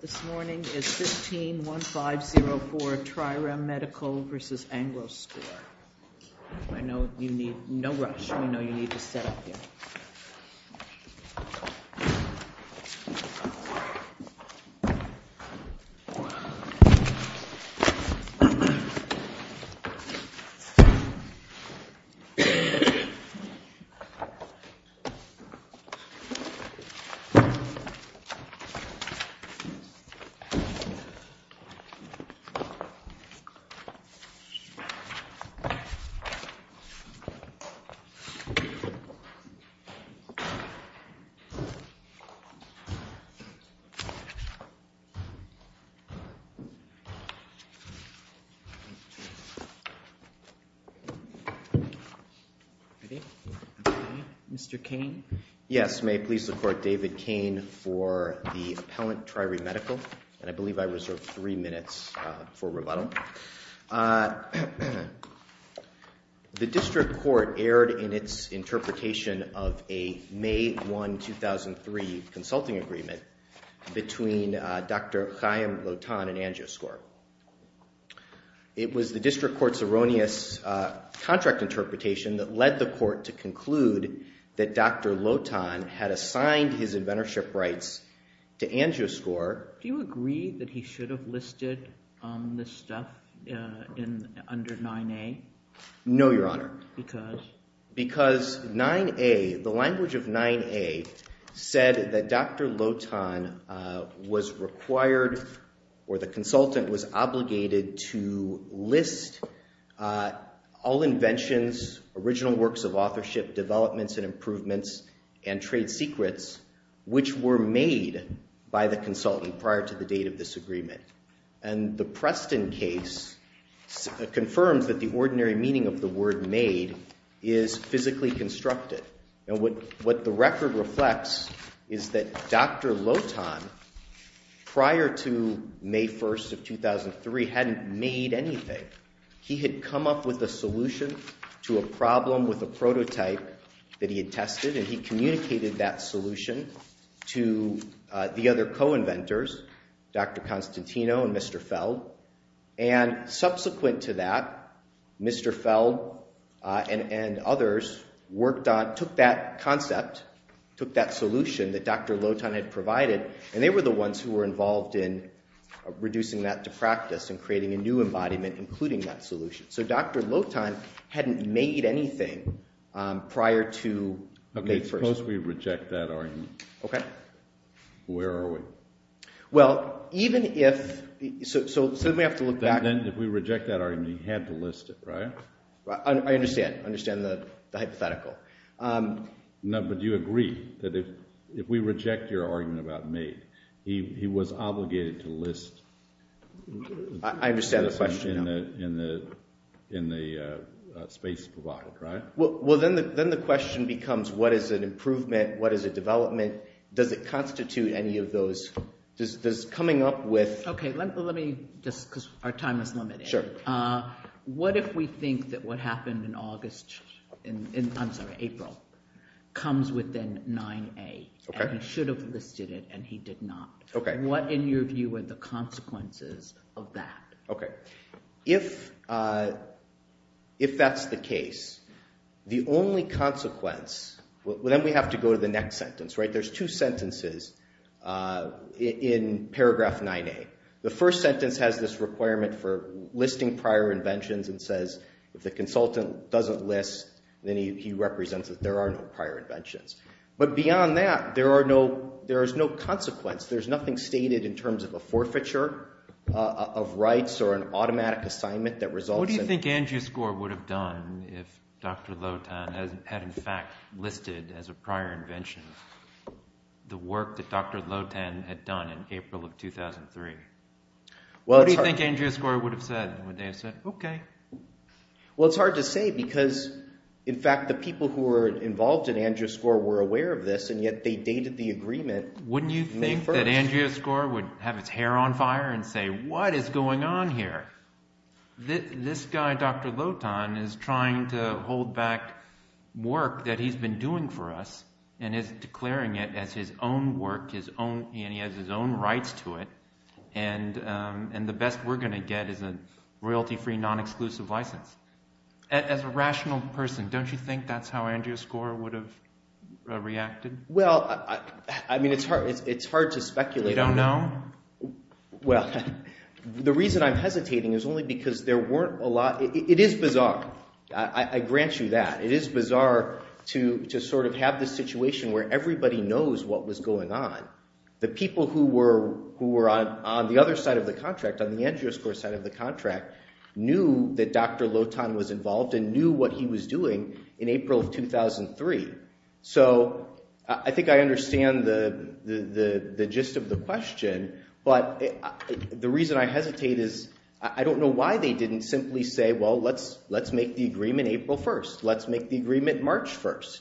is 151504 TriReme Medical v. AngioScore. I know you need no rush. We know you need to set up here. Mr. Cain? Yes, may it please the Court, David Cain for the Appellant TriReme Medical. And I believe I reserve three minutes for rebuttal. The District Court erred in its interpretation of a May 1, 2003, consulting agreement between Dr. Chaim Lotan and AngioScore. It was the District Court's erroneous contract interpretation that led the Court to conclude that Dr. Lotan had assigned his inventorship rights to AngioScore. Do you agree that he should have listed this stuff under 9A? No, Your Honor. Because? Because 9A, the language of 9A said that Dr. Lotan was required or the consultant was obligated to list all inventions, original works of authorship, developments and improvements, and trade secrets which were made by the consultant prior to the date of this agreement. And the Preston case confirms that the ordinary meaning of the word made is physically constructed. And what the record reflects is that Dr. Lotan, prior to May 1, 2003, hadn't made anything. He had come up with a solution to a problem with a prototype that he had tested, and he communicated that solution to the other co-inventors, Dr. Constantino and Mr. Feld. And subsequent to that, Mr. Feld and others worked on, took that concept, took that solution that Dr. Lotan had provided, and they were the ones who were involved in reducing that to practice and creating a new embodiment including that solution. So Dr. Lotan hadn't made anything prior to May 1. Okay, suppose we reject that argument. Okay. Where are we? Well, even if – so then we have to look back. Then if we reject that argument, he had to list it, right? I understand. I understand the hypothetical. No, but do you agree that if we reject your argument about made, he was obligated to list – I understand the question, no. – in the space provided, right? Well, then the question becomes what is an improvement, what is a development? Does it constitute any of those – does coming up with – Okay, let me just – because our time is limited. Sure. What if we think that what happened in August – I'm sorry, April comes within 9A and he should have listed it and he did not? Okay. What, in your view, are the consequences of that? Okay. If that's the case, the only consequence – well, then we have to go to the next sentence, right? There's two sentences in paragraph 9A. The first sentence has this requirement for listing prior inventions and says if the consultant doesn't list, then he represents that there are no prior inventions. But beyond that, there are no – there is no consequence. There's nothing stated in terms of a forfeiture of rights or an automatic assignment that results in – What do you think Andrius Gore would have said? Would they have said okay? Well, it's hard to say because, in fact, the people who were involved in Andrius Gore were aware of this, and yet they dated the agreement May 1st. Wouldn't you think that Andrius Gore would have his hair on fire and say what is going on here? This guy, Dr. Lotan, is trying to hold back work that he's been doing for us and is declaring it as his own work, and he has his own rights to it, and the best we're going to get is a royalty-free, non-exclusive license. As a rational person, don't you think that's how Andrius Gore would have reacted? Well, I mean it's hard to speculate. You don't know? Well, the reason I'm hesitating is only because there weren't a lot – it is bizarre. I grant you that. It is bizarre to sort of have this situation where everybody knows what was going on. The people who were on the other side of the contract, on the Andrius Gore side of the contract, knew that Dr. Lotan was involved and knew what he was doing in April of 2003. So I think I understand the gist of the question, but the reason I hesitate is I don't know why they didn't simply say, well, let's make the agreement April 1st. Let's make the agreement March 1st.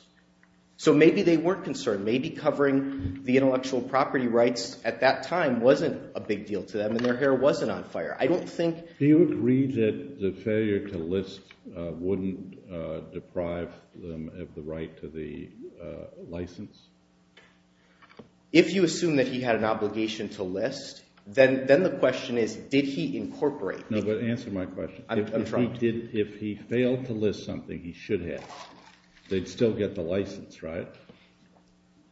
So maybe they weren't concerned. Maybe covering the intellectual property rights at that time wasn't a big deal to them and their hair wasn't on fire. I don't think – Do you agree that the failure to list wouldn't deprive them of the right to the license? If you assume that he had an obligation to list, then the question is did he incorporate? No, but answer my question. I'm trumped. If he failed to list something, he should have. They'd still get the license, right?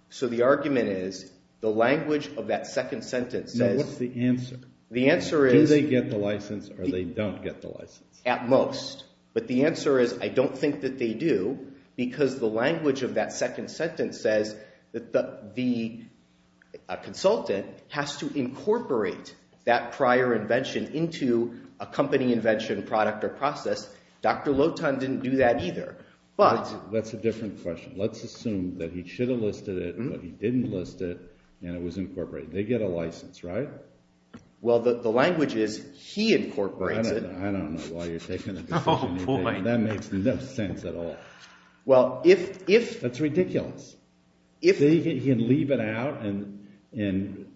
So the argument is the language of that second sentence says – Now, what's the answer? The answer is – Do they get the license or they don't get the license? At most. But the answer is I don't think that they do because the language of that second sentence says that the consultant has to incorporate that prior invention into a company invention, product, or process. Dr. Lotan didn't do that either, but – That's a different question. Let's assume that he should have listed it, but he didn't list it, and it was incorporated. They get a license, right? Well, the language is he incorporates it. I don't know why you're taking that decision. Oh, boy. That makes no sense at all. Well, if – That's ridiculous. They can leave it out and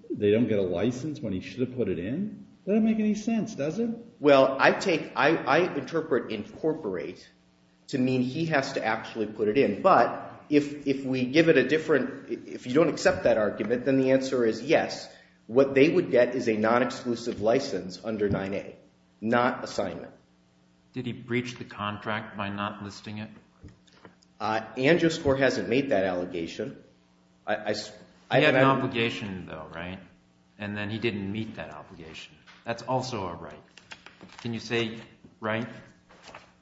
they don't get a license when he should have put it in? That doesn't make any sense, does it? Well, I take – I interpret incorporate to mean he has to actually put it in. But if we give it a different – if you don't accept that argument, then the answer is yes. What they would get is a non-exclusive license under 9A, not assignment. Did he breach the contract by not listing it? Angioscore hasn't made that allegation. He had an obligation, though, right? And then he didn't meet that obligation. That's also a right. Can you say right?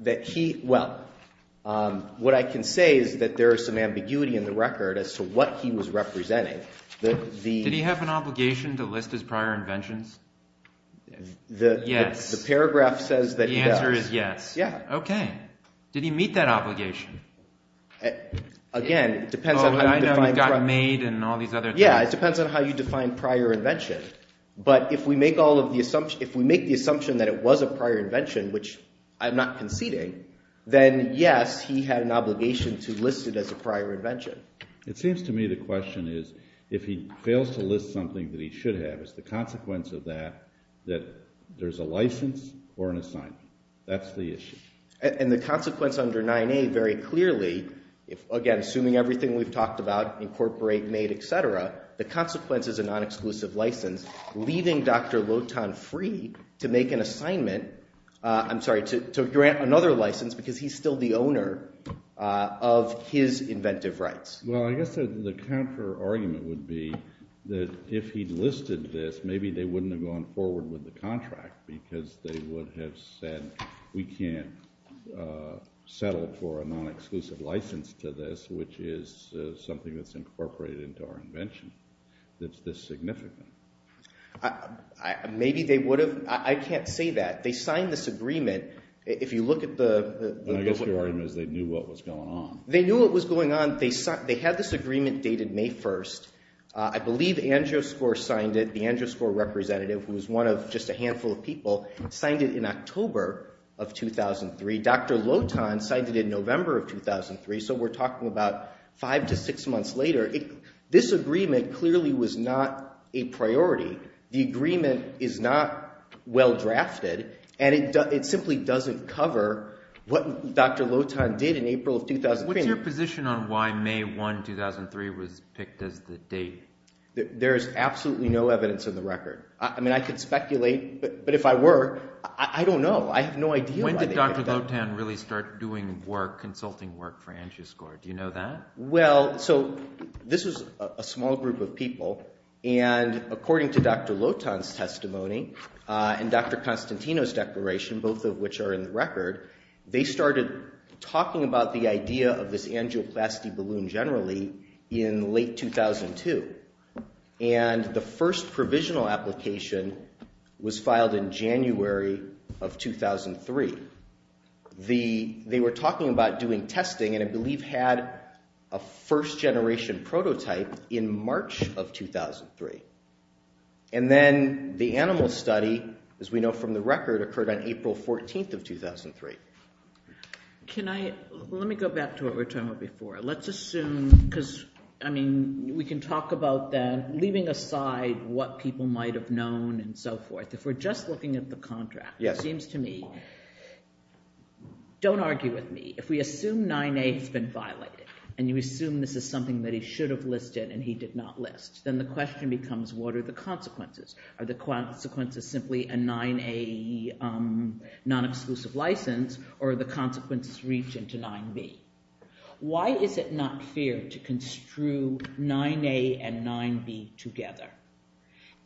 That he – well, what I can say is that there is some ambiguity in the record as to what he was representing. Did he have an obligation to list his prior inventions? Yes. The paragraph says that he does. The answer is yes. Yeah. Okay. Did he meet that obligation? Again, it depends on how you define – I know he got made and all these other things. Yeah, it depends on how you define prior invention. But if we make all of the – if we make the assumption that it was a prior invention, which I'm not conceding, then yes, he had an obligation to list it as a prior invention. It seems to me the question is if he fails to list something that he should have, is the consequence of that that there's a license or an assignment? That's the issue. And the consequence under 9A very clearly, again, assuming everything we've talked about, incorporate, made, et cetera, the consequence is a non-exclusive license, leaving Dr. Lotan free to make an assignment – I'm sorry, to grant another license because he's still the owner of his inventive rights. Well, I guess the counterargument would be that if he'd listed this, maybe they wouldn't have gone forward with the contract because they would have said, we can't settle for a non-exclusive license to this, which is something that's incorporated into our invention that's this significant. Maybe they would have – I can't say that. They signed this agreement. If you look at the – I guess your argument is they knew what was going on. They knew what was going on. They had this agreement dated May 1st. I believe Androscor signed it. The Androscor representative, who was one of just a handful of people, signed it in October of 2003. Dr. Lotan signed it in November of 2003, so we're talking about five to six months later. This agreement clearly was not a priority. The agreement is not well drafted, and it simply doesn't cover what Dr. Lotan did in April of 2003. What's your position on why May 1, 2003 was picked as the date? There is absolutely no evidence in the record. I mean, I could speculate, but if I were, I don't know. I have no idea why they did that. When did Dr. Lotan really start doing work, consulting work for Androscor? Do you know that? Well, so this was a small group of people, and according to Dr. Lotan's testimony they started talking about the idea of this angioplasty balloon generally in late 2002. And the first provisional application was filed in January of 2003. They were talking about doing testing, and I believe had a first-generation prototype in March of 2003. And then the animal study, as we know from the record, occurred on April 14 of 2003. Can I—let me go back to what we were talking about before. Let's assume—because, I mean, we can talk about that, leaving aside what people might have known and so forth. If we're just looking at the contract, it seems to me—don't argue with me. If we assume 9A has been violated, and you assume this is something that he should have listed and he did not list, then the question becomes, what are the consequences? Are the consequences simply a 9A non-exclusive license, or are the consequences reaching to 9B? Why is it not fair to construe 9A and 9B together?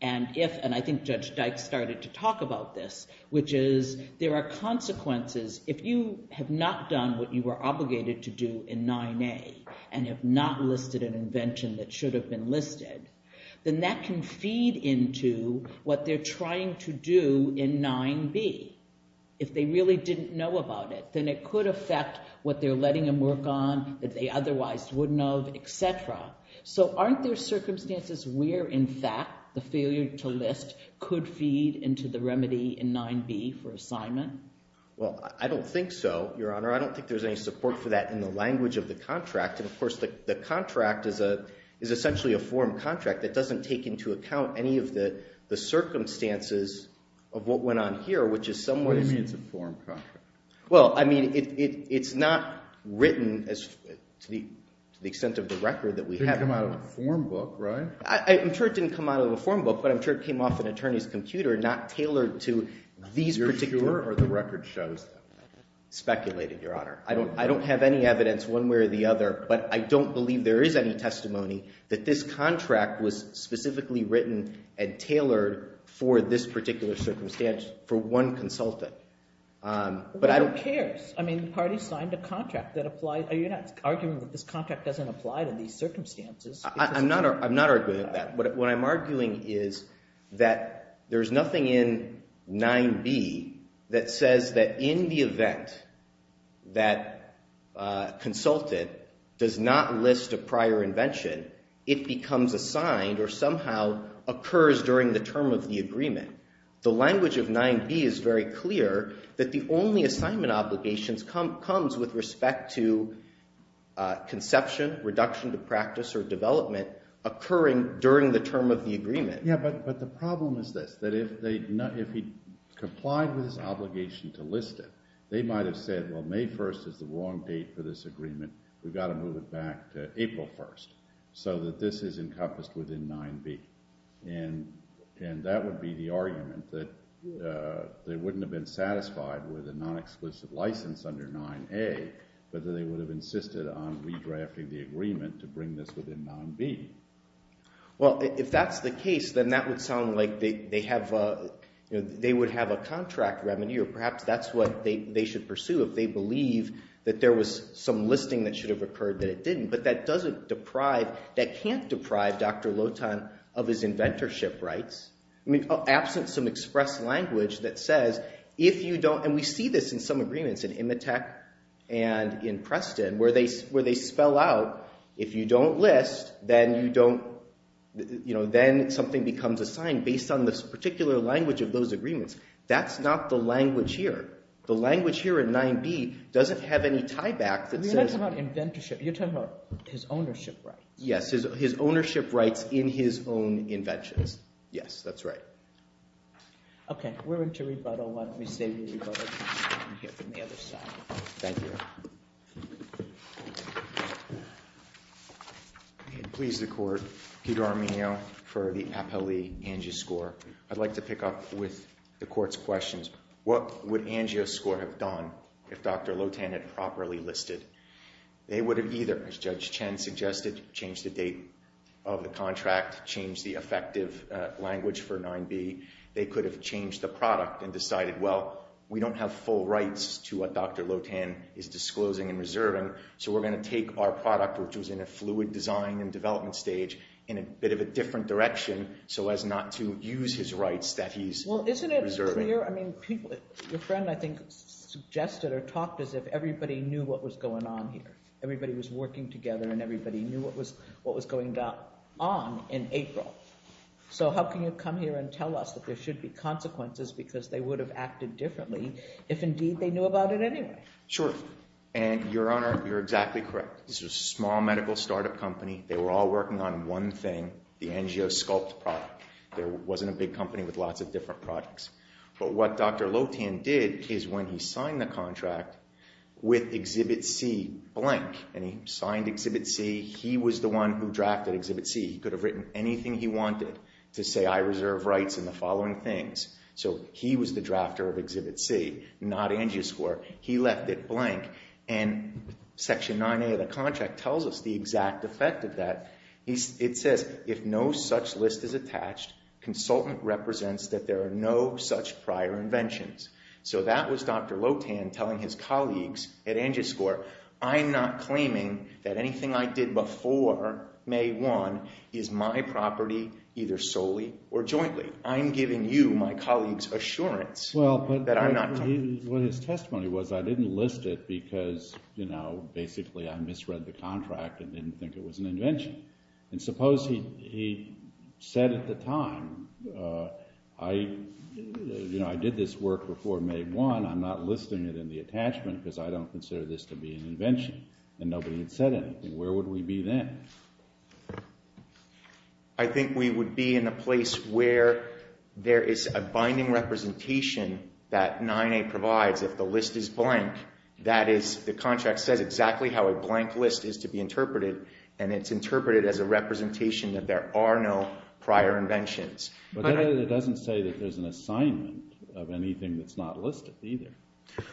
And if—and I think Judge Dyke started to talk about this, which is there are consequences. If you have not done what you were obligated to do in 9A and have not listed an invention that should have been listed, then that can feed into what they're trying to do in 9B. If they really didn't know about it, then it could affect what they're letting him work on that they otherwise wouldn't have, etc. So aren't there circumstances where, in fact, the failure to list could feed into the remedy in 9B for assignment? Well, I don't think so, Your Honor. I don't think there's any support for that in the language of the contract. And, of course, the contract is essentially a form contract that doesn't take into account any of the circumstances of what went on here, which is somewhat— What do you mean it's a form contract? Well, I mean it's not written to the extent of the record that we have. It didn't come out of a form book, right? I'm sure it didn't come out of a form book, but I'm sure it came off an attorney's computer, not tailored to these particular— I'm sure the record shows that. Speculated, Your Honor. I don't have any evidence one way or the other, but I don't believe there is any testimony that this contract was specifically written and tailored for this particular circumstance for one consultant. But who cares? I mean the party signed a contract that applied—you're not arguing that this contract doesn't apply to these circumstances. I'm not arguing that. What I'm arguing is that there's nothing in 9b that says that in the event that a consultant does not list a prior invention, it becomes assigned or somehow occurs during the term of the agreement. The language of 9b is very clear that the only assignment obligations comes with respect to conception, reduction to practice, or development occurring during the term of the agreement. Yeah, but the problem is this, that if he complied with his obligation to list it, they might have said, well, May 1st is the wrong date for this agreement. We've got to move it back to April 1st so that this is encompassed within 9b. And that would be the argument, that they wouldn't have been satisfied with a non-exclusive license under 9a, but that they would have insisted on redrafting the agreement to bring this within 9b. Well, if that's the case, then that would sound like they have—they would have a contract remedy, or perhaps that's what they should pursue if they believe that there was some listing that should have occurred that it didn't. But that doesn't deprive—that can't deprive Dr. Lotan of his inventorship rights. I mean, absent some express language that says, if you don't—and we see this in some agreements in IMATEC and in Preston where they spell out, if you don't list, then you don't—then something becomes assigned based on this particular language of those agreements. That's not the language here. The language here in 9b doesn't have any tieback that says— His ownership rights. Yes, his ownership rights in his own inventions. Yes, that's right. Okay, we're into rebuttal. Let me save you rebuttal time here from the other side. Thank you. Please, the Court. Peter Arminio for the Appellee Angioscore. I'd like to pick up with the Court's questions, what would Angioscore have done if Dr. Lotan had properly listed? They would have either, as Judge Chen suggested, changed the date of the contract, changed the effective language for 9b. They could have changed the product and decided, well, we don't have full rights to what Dr. Lotan is disclosing and reserving, so we're going to take our product, which was in a fluid design and development stage, in a bit of a different direction so as not to use his rights that he's reserving. Well, isn't it clear? I mean, your friend, I think, suggested or talked as if everybody knew what was going on here. Everybody was working together and everybody knew what was going on in April. So how can you come here and tell us that there should be consequences because they would have acted differently if, indeed, they knew about it anyway? Sure. And, Your Honor, you're exactly correct. This was a small medical startup company. They were all working on one thing, the Angiosculpt product. There wasn't a big company with lots of different products. But what Dr. Lotan did is when he signed the contract with Exhibit C blank and he signed Exhibit C, he was the one who drafted Exhibit C. He could have written anything he wanted to say, I reserve rights in the following things. So he was the drafter of Exhibit C, not Angioscorp. He left it blank. And Section 9a of the contract tells us the exact effect of that. It says, if no such list is attached, consultant represents that there are no such prior inventions. So that was Dr. Lotan telling his colleagues at Angioscorp, I'm not claiming that anything I did before May 1 is my property either solely or jointly. I'm giving you, my colleagues, assurance that I'm not claiming. What his testimony was, I didn't list it because basically I misread the contract and didn't think it was an invention. And suppose he said at the time, I did this work before May 1. I'm not listing it in the attachment because I don't consider this to be an invention. And nobody had said anything. Where would we be then? I think we would be in a place where there is a binding representation that 9a provides if the list is blank. That is, the contract says exactly how a blank list is to be interpreted. And it's interpreted as a representation that there are no prior inventions. But that doesn't say that there's an assignment of anything that's not listed either.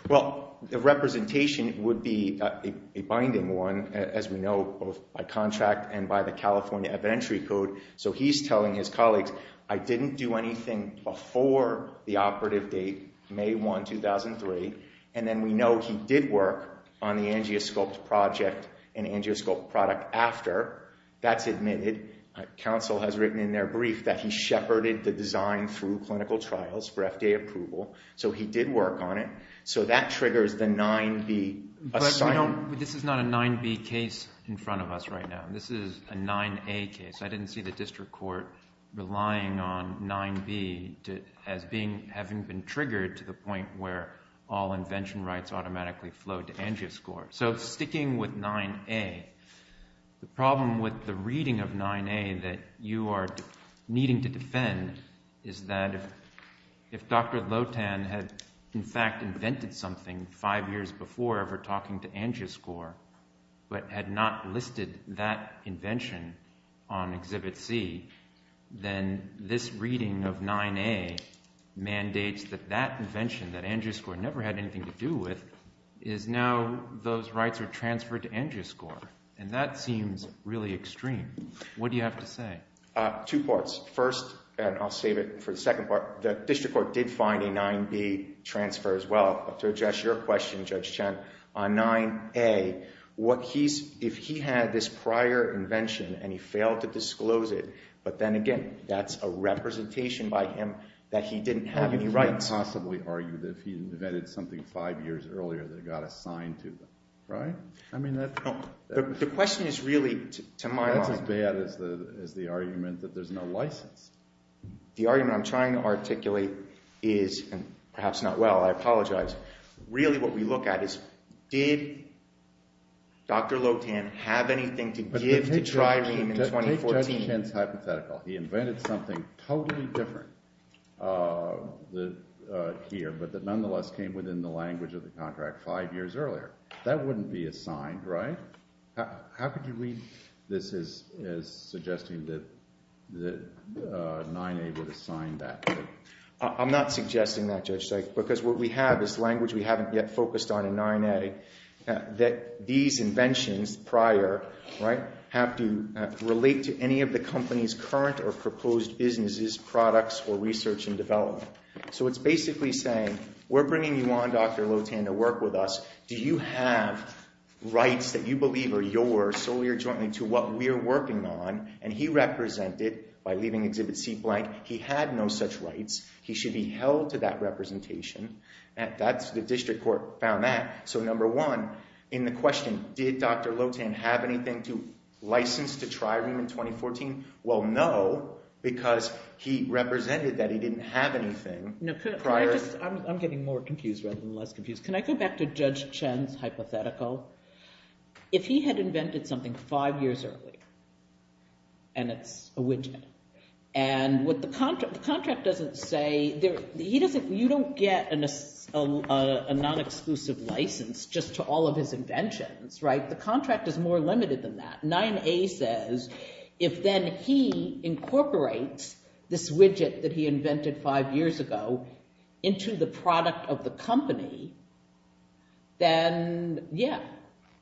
Well, the representation would be a binding one, as we know, both by contract and by the California Evidentiary Code. So he's telling his colleagues, I didn't do anything before the operative date, May 1, 2003. And then we know he did work on the Angioscorp project and Angioscorp product after. That's admitted. Counsel has written in their brief that he shepherded the design through clinical trials for FDA approval. So he did work on it. So that triggers the 9b assignment. But this is not a 9b case in front of us right now. This is a 9a case. I didn't see the district court relying on 9b as having been triggered to the point where all invention rights automatically flowed to Angioscorp. So sticking with 9a, the problem with the reading of 9a that you are needing to defend is that if Dr. Lotan had in fact invented something five years before ever talking to Angioscorp, but had not listed that invention on Exhibit C, then this reading of 9a mandates that that invention that Angioscorp never had anything to do with is now those rights are transferred to Angioscorp. And that seems really extreme. What do you have to say? Two parts. First, and I'll save it for the second part, the district court did find a 9b transfer as well. But to address your question, Judge Chen, on 9a, if he had this prior invention and he failed to disclose it, but then again, that's a representation by him that he didn't have any rights. You couldn't possibly argue that if he invented something five years earlier that it got assigned to him, right? I mean, that's not... The question is really, to my mind... That's as bad as the argument that there's no license. The argument I'm trying to articulate is, and perhaps not well, I apologize, really what we look at is did Dr. Lotan have anything to give to Trirene in 2014? Take Judge Chen's hypothetical. He invented something totally different here, but that nonetheless came within the language of the contract five years earlier. That wouldn't be assigned, right? How could you read this as suggesting that 9a would assign that? I'm not suggesting that, Judge Sykes, because what we have is language we haven't yet focused on in 9a, that these inventions prior, right, have to relate to any of the company's current or proposed businesses, products, or research and development. So it's basically saying, we're bringing you on, Dr. Lotan, to work with us. Do you have rights that you believe are yours, solely or jointly, to what we're working on? And he represented, by leaving Exhibit C blank, he had no such rights. He should be held to that representation. The district court found that. So number one, in the question, did Dr. Lotan have anything to license to Trirene in 2014? Well, no, because he represented that he didn't have anything prior. I'm getting more confused rather than less confused. Can I go back to Judge Chen's hypothetical? If he had invented something five years earlier, and it's a widget, and what the contract doesn't say, you don't get a non-exclusive license just to all of his inventions, right? The contract is more limited than that. 9A says, if then he incorporates this widget that he invented five years ago into the product of the company, then, yeah,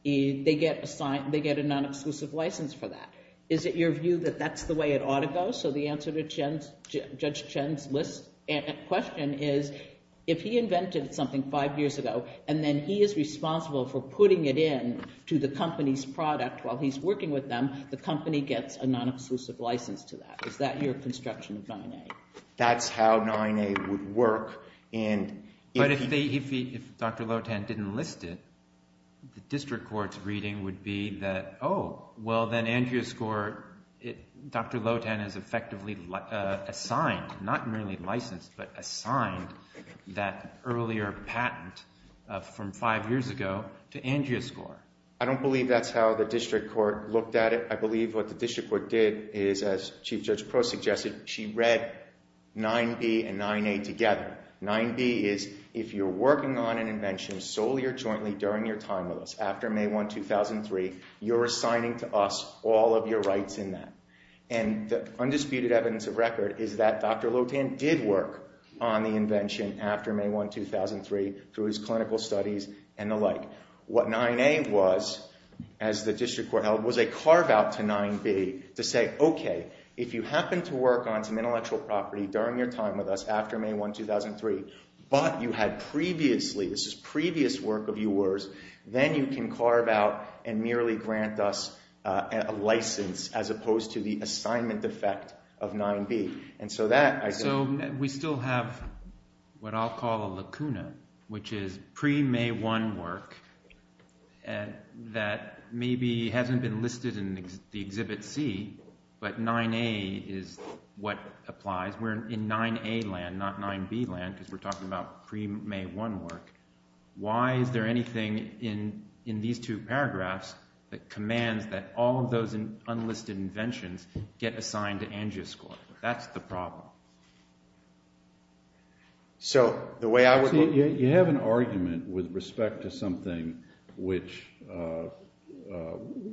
they get a non-exclusive license for that. Is it your view that that's the way it ought to go? So the answer to Judge Chen's question is, if he invented something five years ago, and then he is responsible for putting it in to the company's product while he's working with them, the company gets a non-exclusive license to that. Is that your construction of 9A? That's how 9A would work. But if Dr. Lotan didn't list it, the district court's reading would be that, oh, well, then Angioscor, Dr. Lotan has effectively assigned, not merely licensed, but assigned that earlier patent from five years ago to Angioscor. I don't believe that's how the district court looked at it. I believe what the district court did is, as Chief Judge Proh suggested, she read 9B and 9A together. 9B is, if you're working on an invention solely or jointly during your time with us after May 1, 2003, you're assigning to us all of your rights in that. And the undisputed evidence of record is that Dr. Lotan did work on the invention after May 1, 2003 through his clinical studies and the like. What 9A was, as the district court held, was a carve-out to 9B to say, okay, if you happen to work on some intellectual property during your time with us after May 1, 2003, but you had previously, this is previous work of yours, then you can carve out and merely grant us a license as opposed to the assignment effect of 9B. So we still have what I'll call a lacuna, which is pre-May 1 work that maybe hasn't been listed in the Exhibit C, but 9A is what applies. We're in 9A land, not 9B land, because we're talking about pre-May 1 work. Why is there anything in these two paragraphs that commands that all of those unlisted inventions get assigned to Angioscorps? That's the problem. You have an argument with respect to something which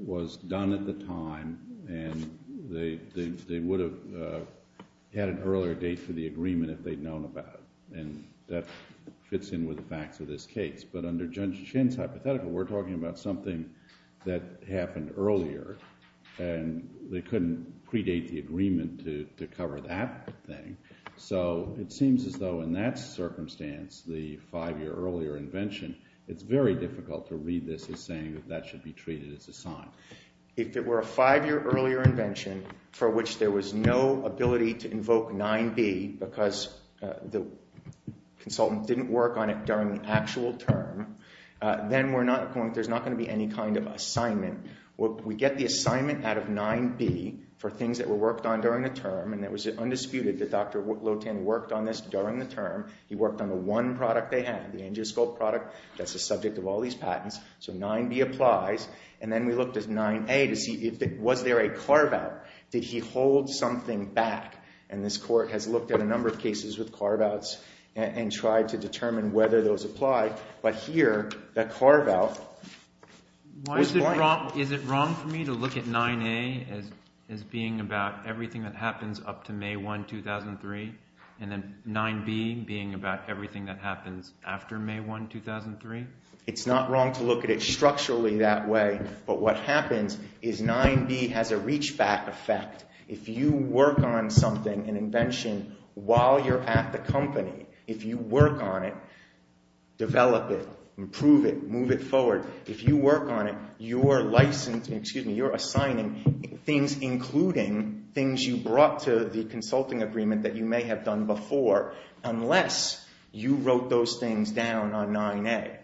was done at the time, and they would have had an earlier date for the agreement if they'd known about it, and that fits in with the facts of this case. But under Judge Chin's hypothetical, we're talking about something that happened earlier, and they couldn't predate the agreement to cover that thing. So it seems as though in that circumstance, the five-year earlier invention, it's very difficult to read this as saying that that should be treated as assigned. If it were a five-year earlier invention for which there was no ability to invoke 9B because the consultant didn't work on it during the actual term, then there's not going to be any kind of assignment. We get the assignment out of 9B for things that were worked on during the term, and it was undisputed that Dr. Lotin worked on this during the term. He worked on the one product they had, the Angioscorp product, that's the subject of all these patents. So 9B applies, and then we looked at 9A to see was there a carve-out. Did he hold something back? And this court has looked at a number of cases with carve-outs and tried to determine whether those apply. But here, the carve-out was fine. Is it wrong for me to look at 9A as being about everything that happens up to May 1, 2003, and then 9B being about everything that happens after May 1, 2003? It's not wrong to look at it structurally that way, but what happens is 9B has a reach-back effect. If you work on something, an invention, while you're at the company, if you work on it, develop it, improve it, move it forward. If you work on it, you're assigning things, including things you brought to the consulting agreement that you may have done before, unless you wrote those things down on 9A.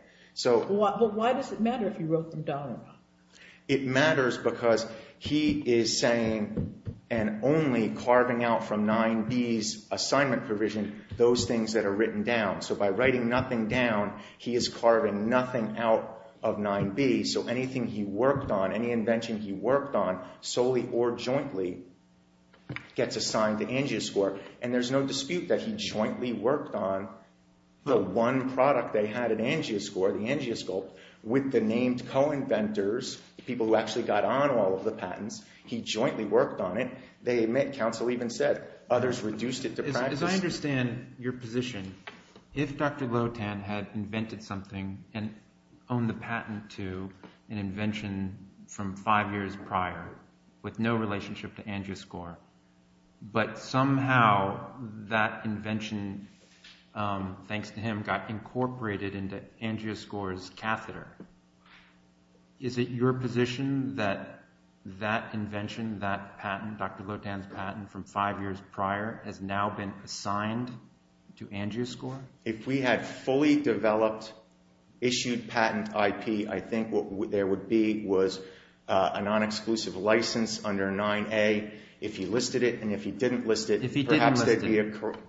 But why does it matter if you wrote them down or not? It matters because he is saying and only carving out from 9B's assignment provision those things that are written down. So by writing nothing down, he is carving nothing out of 9B. So anything he worked on, any invention he worked on, solely or jointly, gets assigned to Angioscore. And there's no dispute that he jointly worked on the one product they had at Angioscore, the Angioscope, with the named co-inventors, the people who actually got on all of the patents. He jointly worked on it. Council even said others reduced it to practice. As I understand your position, if Dr. Lotan had invented something and owned the patent to an invention from five years prior with no relationship to Angioscore, but somehow that invention, thanks to him, got incorporated into Angioscore's catheter, is it your position that that invention, that patent, Dr. Lotan's patent from five years prior, has now been assigned to Angioscore? If we had fully developed, issued patent IP, I think what there would be was a non-exclusive license under 9A. If he listed it and if he didn't list it,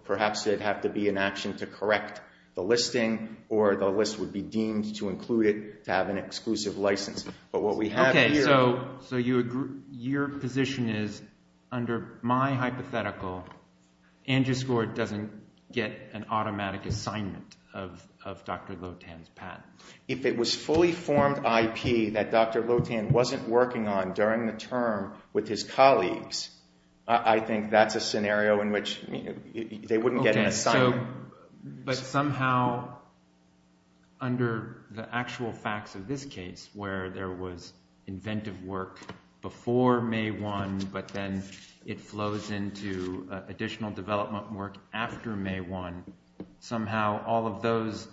perhaps there would have to be an action to correct the listing, or the list would be deemed to include it to have an exclusive license. But what we have here— Okay, so your position is, under my hypothetical, Angioscore doesn't get an automatic assignment of Dr. Lotan's patent. If it was fully formed IP that Dr. Lotan wasn't working on during the term with his colleagues, I think that's a scenario in which they wouldn't get an assignment. But somehow, under the actual facts of this case, where there was inventive work before May 1, but then it flows into additional development work after May 1, somehow all of those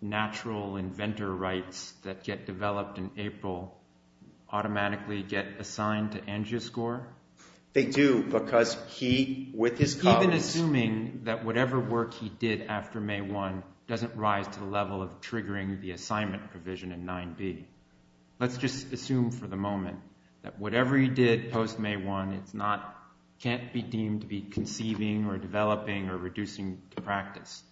natural inventor rights that get developed in April automatically get assigned to Angioscore? They do, because he, with his colleagues— Whatever work he did after May 1 doesn't rise to the level of triggering the assignment provision in 9B. Let's just assume for the moment that whatever he did post-May 1 can't be deemed to be conceiving or developing or reducing to practice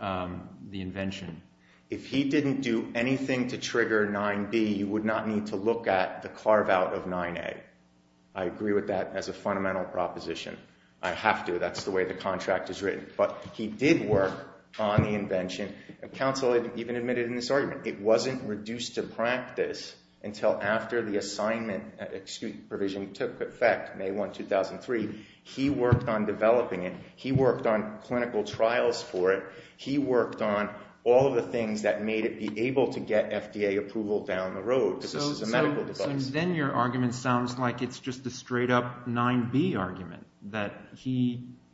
the invention. If he didn't do anything to trigger 9B, you would not need to look at the carve-out of 9A. I agree with that as a fundamental proposition. I have to. That's the way the contract is written. But he did work on the invention, and counsel even admitted in this argument. It wasn't reduced to practice until after the assignment provision took effect, May 1, 2003. He worked on developing it. He worked on clinical trials for it. He worked on all of the things that made it be able to get FDA approval down the road, because this is a medical device. Because then your argument sounds like it's just a straight-up 9B argument, that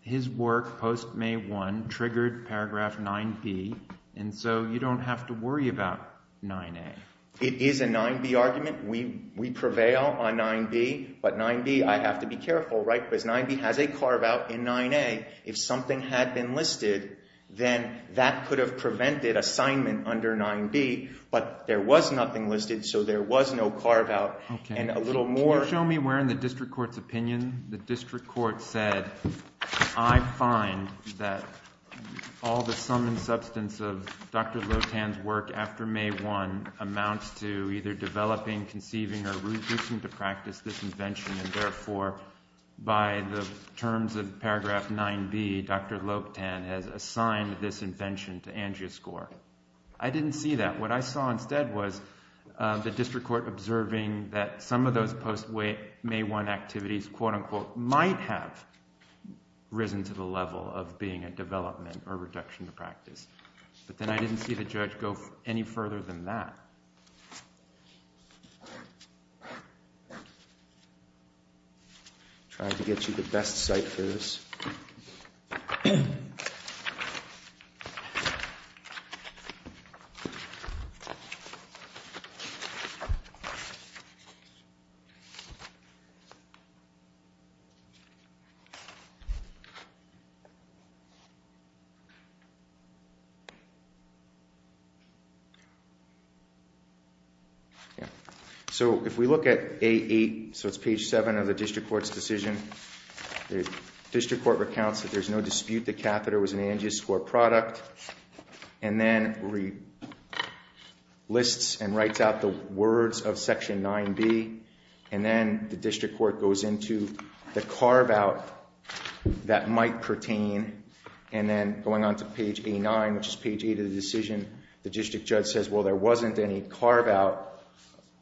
his work post-May 1 triggered paragraph 9B, and so you don't have to worry about 9A. It is a 9B argument. We prevail on 9B. But 9B, I have to be careful, right, because 9B has a carve-out in 9A. If something had been listed, then that could have prevented assignment under 9B, but there was nothing listed, so there was no carve-out. And a little more – Can you show me where in the district court's opinion the district court said, I find that all the sum and substance of Dr. Lotan's work after May 1 amounts to either developing, conceiving, or reducing to practice this invention, and therefore, by the terms of paragraph 9B, Dr. Lotan has assigned this invention to angioscore. I didn't see that. What I saw instead was the district court observing that some of those post-May 1 activities, quote-unquote, might have risen to the level of being a development or reduction to practice. But then I didn't see the judge go any further than that. I'm trying to get you the best sight for this. So if we look at 8A, so it's page 7 of the district court's decision, the district court recounts that there's no dispute the catheter was an angioscore product, and then lists and writes out the words of section 9B, and then the district court goes into the carve-out that might pertain, and then going on to page A9, which is page 8 of the decision, the district judge says, well, there wasn't any carve-out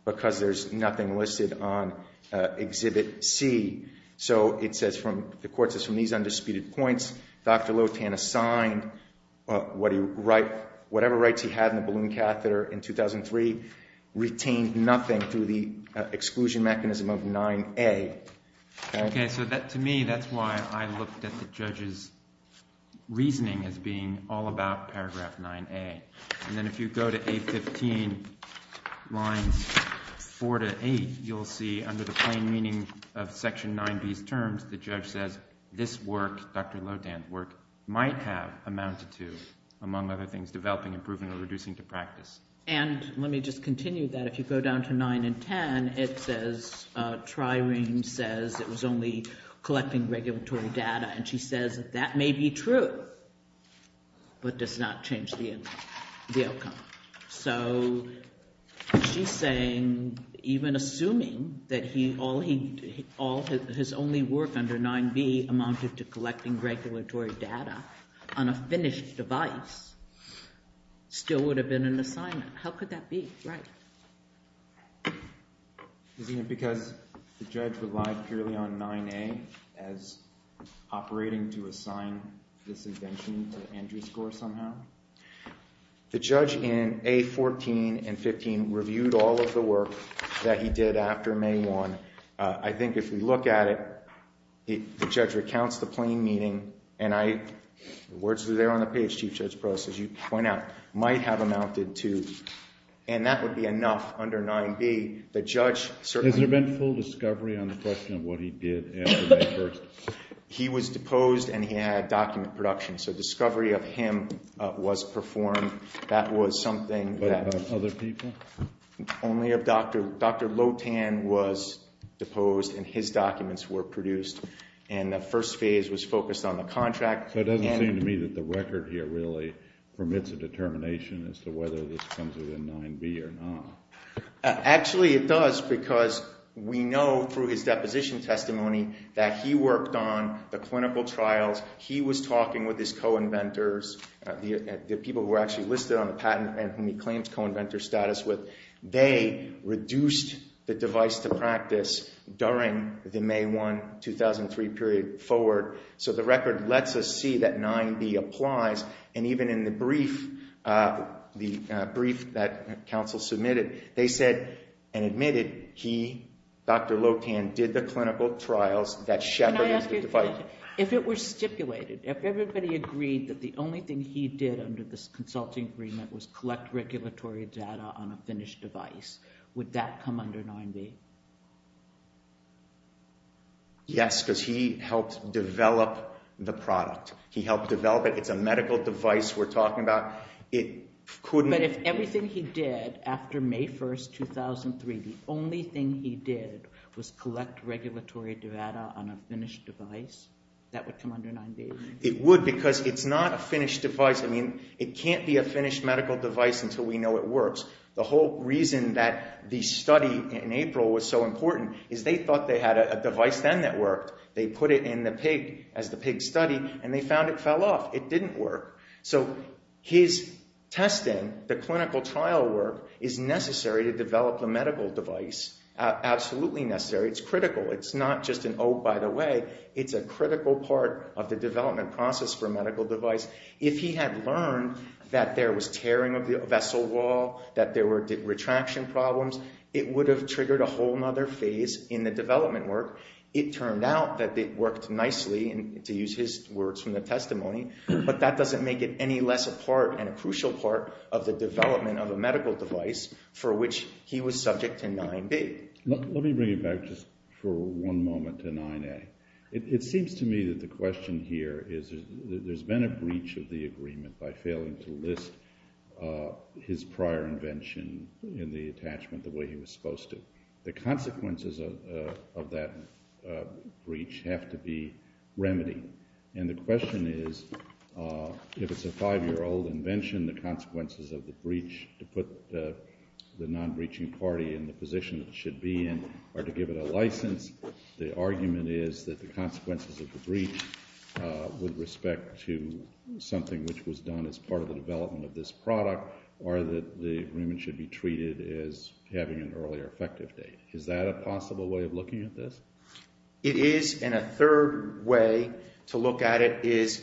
because there's nothing listed on exhibit C. So it says the court says from these undisputed points, Dr. Lotan assigned whatever rights he had in the balloon catheter in 2003, retained nothing through the exclusion mechanism of 9A. Okay, so to me, that's why I looked at the judge's reasoning as being all about paragraph 9A. And then if you go to 815, lines 4 to 8, you'll see under the plain meaning of section 9B's terms, the judge says this work, Dr. Lotan's work, might have amounted to, among other things, developing, improving, or reducing to practice. And let me just continue that. If you go down to 9 and 10, it says, Tri-Ring says it was only collecting regulatory data, and she says that that may be true, but does not change the outcome. So she's saying even assuming that his only work under 9B amounted to collecting regulatory data on a finished device still would have been an assignment. How could that be? Right. Isn't it because the judge relied purely on 9A as operating to assign this invention to Andrew Score somehow? The judge in 814 and 815 reviewed all of the work that he did after May 1. I think if we look at it, the judge recounts the plain meaning, and the words are there on the page, Chief Judge Pross, as you point out, might have amounted to, and that would be enough under 9B. Has there been full discovery on the question of what he did after May 1? He was deposed, and he had document production. So discovery of him was performed. That was something that— But of other people? Only of Dr. Lotan was deposed, and his documents were produced. And the first phase was focused on the contract. So it doesn't seem to me that the record here really permits a determination as to whether this comes within 9B or not. Actually, it does because we know through his deposition testimony that he worked on the clinical trials. He was talking with his co-inventors, the people who were actually listed on the patent and whom he claims co-inventor status with. They reduced the device to practice during the May 1, 2003 period forward. So the record lets us see that 9B applies, and even in the brief that counsel submitted, they said and admitted he, Dr. Lotan, did the clinical trials that shepherded the device. Can I ask you a question? If it were stipulated, if everybody agreed that the only thing he did under this consulting agreement was collect regulatory data on a finished device, would that come under 9B? Yes, because he helped develop the product. He helped develop it. It's a medical device we're talking about. But if everything he did after May 1, 2003, the only thing he did was collect regulatory data on a finished device, that would come under 9B? It would because it's not a finished device. I mean, it can't be a finished medical device until we know it works. The whole reason that the study in April was so important is they thought they had a device then that worked. They put it in the pig as the pig study, and they found it fell off. It didn't work. So his testing, the clinical trial work, is necessary to develop a medical device, absolutely necessary. It's critical. It's not just an oh, by the way. It's a critical part of the development process for a medical device. If he had learned that there was tearing of the vessel wall, that there were retraction problems, it would have triggered a whole other phase in the development work. It turned out that it worked nicely, to use his words from the testimony, but that doesn't make it any less a part and a crucial part of the development of a medical device for which he was subject to 9B. Let me bring it back just for one moment to 9A. It seems to me that the question here is there's been a breach of the agreement by failing to list his prior invention in the attachment the way he was supposed to. The consequences of that breach have to be remedied, and the question is if it's a five-year-old invention, the consequences of the breach to put the non-breaching party in the position it should be in are to give it a license. The argument is that the consequences of the breach with respect to something which was done as part of the development of this product are that the agreement should be treated as having an earlier effective date. Is that a possible way of looking at this? It is, and a third way to look at it is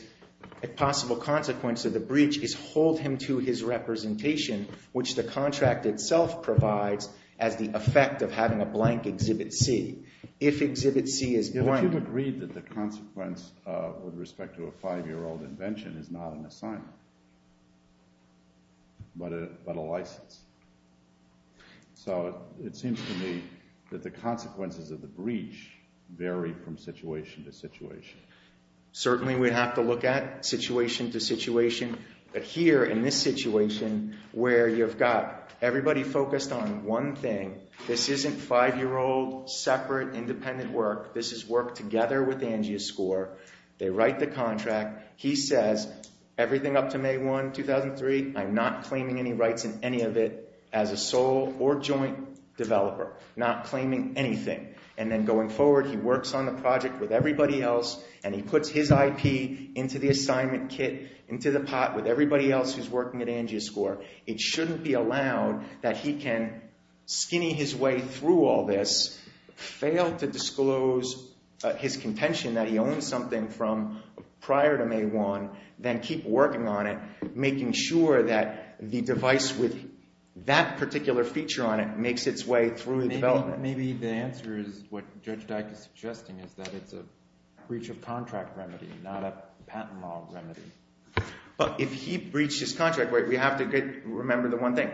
a possible consequence of the breach is hold him to his representation, which the contract itself provides as the effect of having a blank Exhibit C. If Exhibit C is blank— But you've agreed that the consequence with respect to a five-year-old invention is not an assignment but a license. So it seems to me that the consequences of the breach vary from situation to situation. Certainly we'd have to look at situation to situation, but here in this situation where you've got everybody focused on one thing, this isn't five-year-old separate independent work. This is work together with Angia Score. They write the contract. He says everything up to May 1, 2003, I'm not claiming any rights in any of it as a sole or joint developer, not claiming anything. And then going forward, he works on the project with everybody else, and he puts his IP into the assignment kit, into the pot with everybody else who's working at Angia Score. It shouldn't be allowed that he can skinny his way through all this, fail to disclose his contention that he owns something from prior to May 1, then keep working on it, making sure that the device with that particular feature on it makes its way through the development. But maybe the answer is what Judge Dyke is suggesting is that it's a breach of contract remedy, not a patent law remedy. But if he breached his contract, we have to remember the one thing.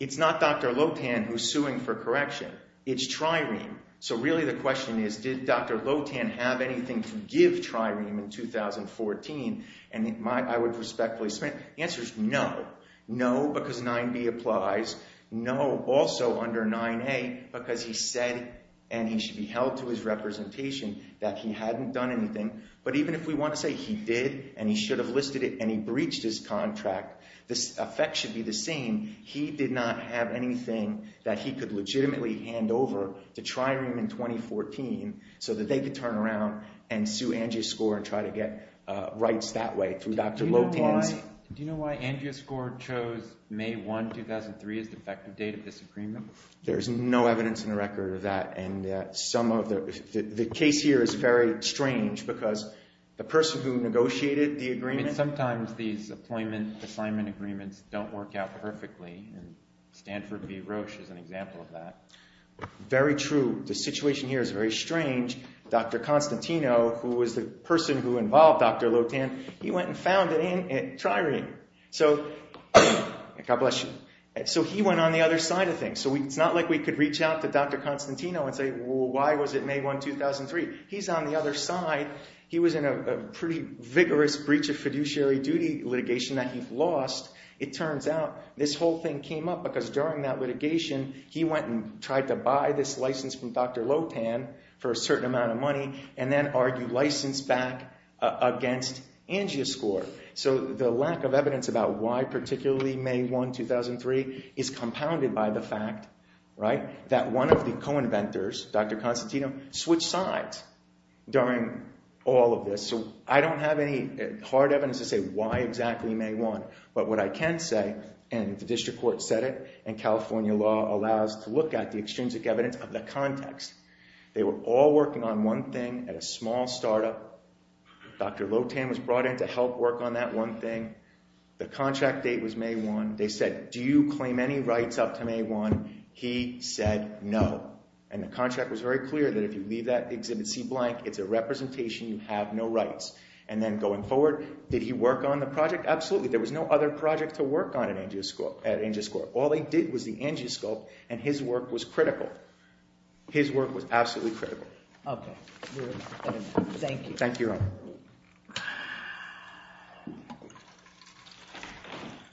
It's not Dr. Lotan who's suing for correction. It's Trireme. So really the question is did Dr. Lotan have anything to give Trireme in 2014? And I would respectfully submit the answer is no. No because 9B applies. No also under 9A because he said and he should be held to his representation that he hadn't done anything. But even if we want to say he did and he should have listed it and he breached his contract, the effect should be the same. He did not have anything that he could legitimately hand over to Trireme in 2014 so that they could turn around and sue Angia Score and try to get rights that way through Dr. Lotan's— Do you know why Angia Score chose May 1, 2003 as the effective date of this agreement? There's no evidence in the record of that. And some of the—the case here is very strange because the person who negotiated the agreement— I mean sometimes these employment assignment agreements don't work out perfectly and Stanford v. Roche is an example of that. Very true. The situation here is very strange. Dr. Constantino who was the person who involved Dr. Lotan, he went and found it in Trireme. So—God bless you. So he went on the other side of things. So it's not like we could reach out to Dr. Constantino and say, well, why was it May 1, 2003? He's on the other side. He was in a pretty vigorous breach of fiduciary duty litigation that he lost. It turns out this whole thing came up because during that litigation he went and tried to buy this license from Dr. Lotan for a certain amount of money and then argued license back against Angia Score. So the lack of evidence about why particularly May 1, 2003 is compounded by the fact, right, that one of the co-inventors, Dr. Constantino, switched sides during all of this. So I don't have any hard evidence to say why exactly May 1, but what I can say, and the district court said it, and California law allows to look at the extrinsic evidence of the context. They were all working on one thing at a small startup. Dr. Lotan was brought in to help work on that one thing. The contract date was May 1. They said, do you claim any rights up to May 1? He said no. And the contract was very clear that if you leave that exhibit seat blank, it's a representation. You have no rights. And then going forward, did he work on the project? Absolutely. There was no other project to work on at Angia Score. All they did was the Angia Scope, and his work was critical. His work was absolutely critical. OK. Thank you. Thank you, Your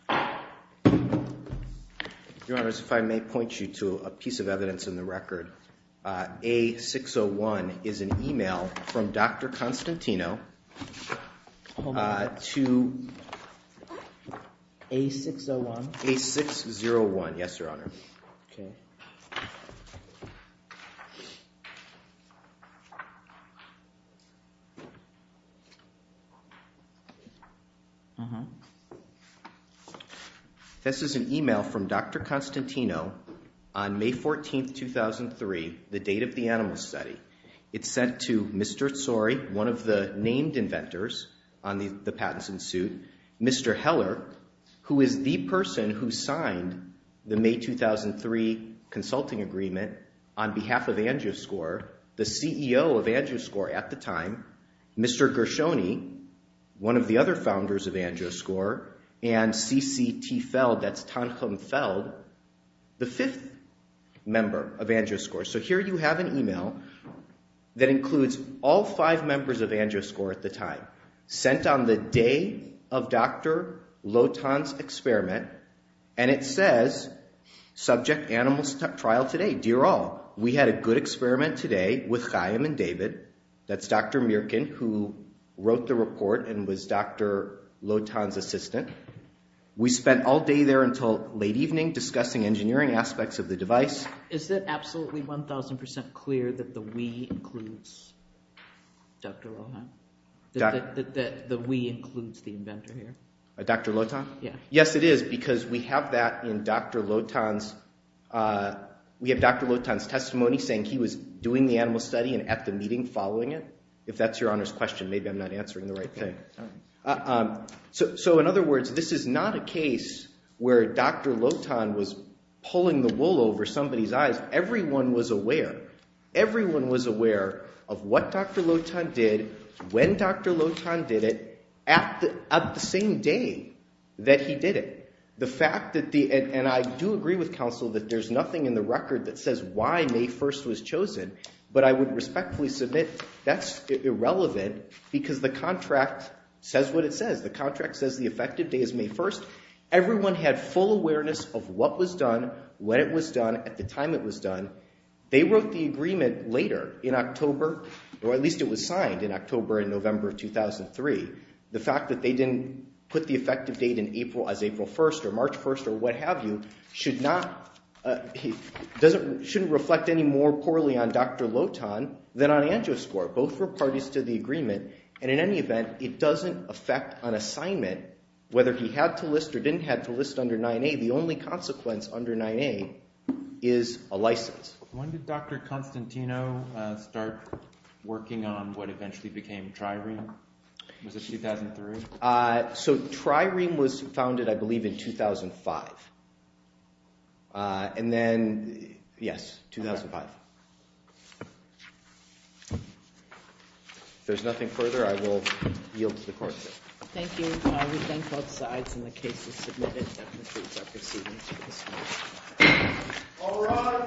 Honor. Your Honor, if I may point you to a piece of evidence in the record. A601 is an email from Dr. Constantino to A601. Yes, Your Honor. OK. OK. This is an email from Dr. Constantino on May 14, 2003, the date of the animal study. It's sent to Mr. Tsori, one of the named inventors on the patents in suit. Mr. Heller, who is the person who signed the May 2003 consulting agreement on behalf of Angia Score, the CEO of Angia Score at the time. Mr. Gershoni, one of the other founders of Angia Score. And CCT Feld, that's Tanchum Feld, the fifth member of Angia Score. So here you have an email that includes all five members of Angia Score at the time, sent on the day of Dr. Lotan's experiment, and it says, subject animal trial today. Dear all, we had a good experiment today with Chaim and David. That's Dr. Mierken, who wrote the report and was Dr. Lotan's assistant. We spent all day there until late evening discussing engineering aspects of the device. Is it absolutely 1,000% clear that the we includes Dr. Lotan? That the we includes the inventor here? Dr. Lotan? Yeah. Yes, it is, because we have that in Dr. Lotan's testimony saying he was doing the animal study and at the meeting following it. If that's Your Honor's question, maybe I'm not answering the right thing. So in other words, this is not a case where Dr. Lotan was pulling the wool over somebody's eyes. Everyone was aware. Everyone was aware of what Dr. Lotan did, when Dr. Lotan did it, at the same day that he did it. And I do agree with counsel that there's nothing in the record that says why May 1st was chosen, but I would respectfully submit that's irrelevant because the contract says what it says. The contract says the effective day is May 1st. Everyone had full awareness of what was done, when it was done, at the time it was done. They wrote the agreement later in October, or at least it was signed in October and November of 2003. The fact that they didn't put the effective date as April 1st or March 1st or what have you should not—shouldn't reflect any more poorly on Dr. Lotan than on Angioscorp. Both were parties to the agreement, and in any event, it doesn't affect an assignment, whether he had to list or didn't have to list under 9A. The only consequence under 9A is a license. When did Dr. Constantino start working on what eventually became Trireme? Was it 2003? So Trireme was founded, I believe, in 2005. And then—yes, 2005. If there's nothing further, I will yield to the court. Thank you. We thank both sides, and the case is submitted. That concludes our proceedings for this morning. All rise.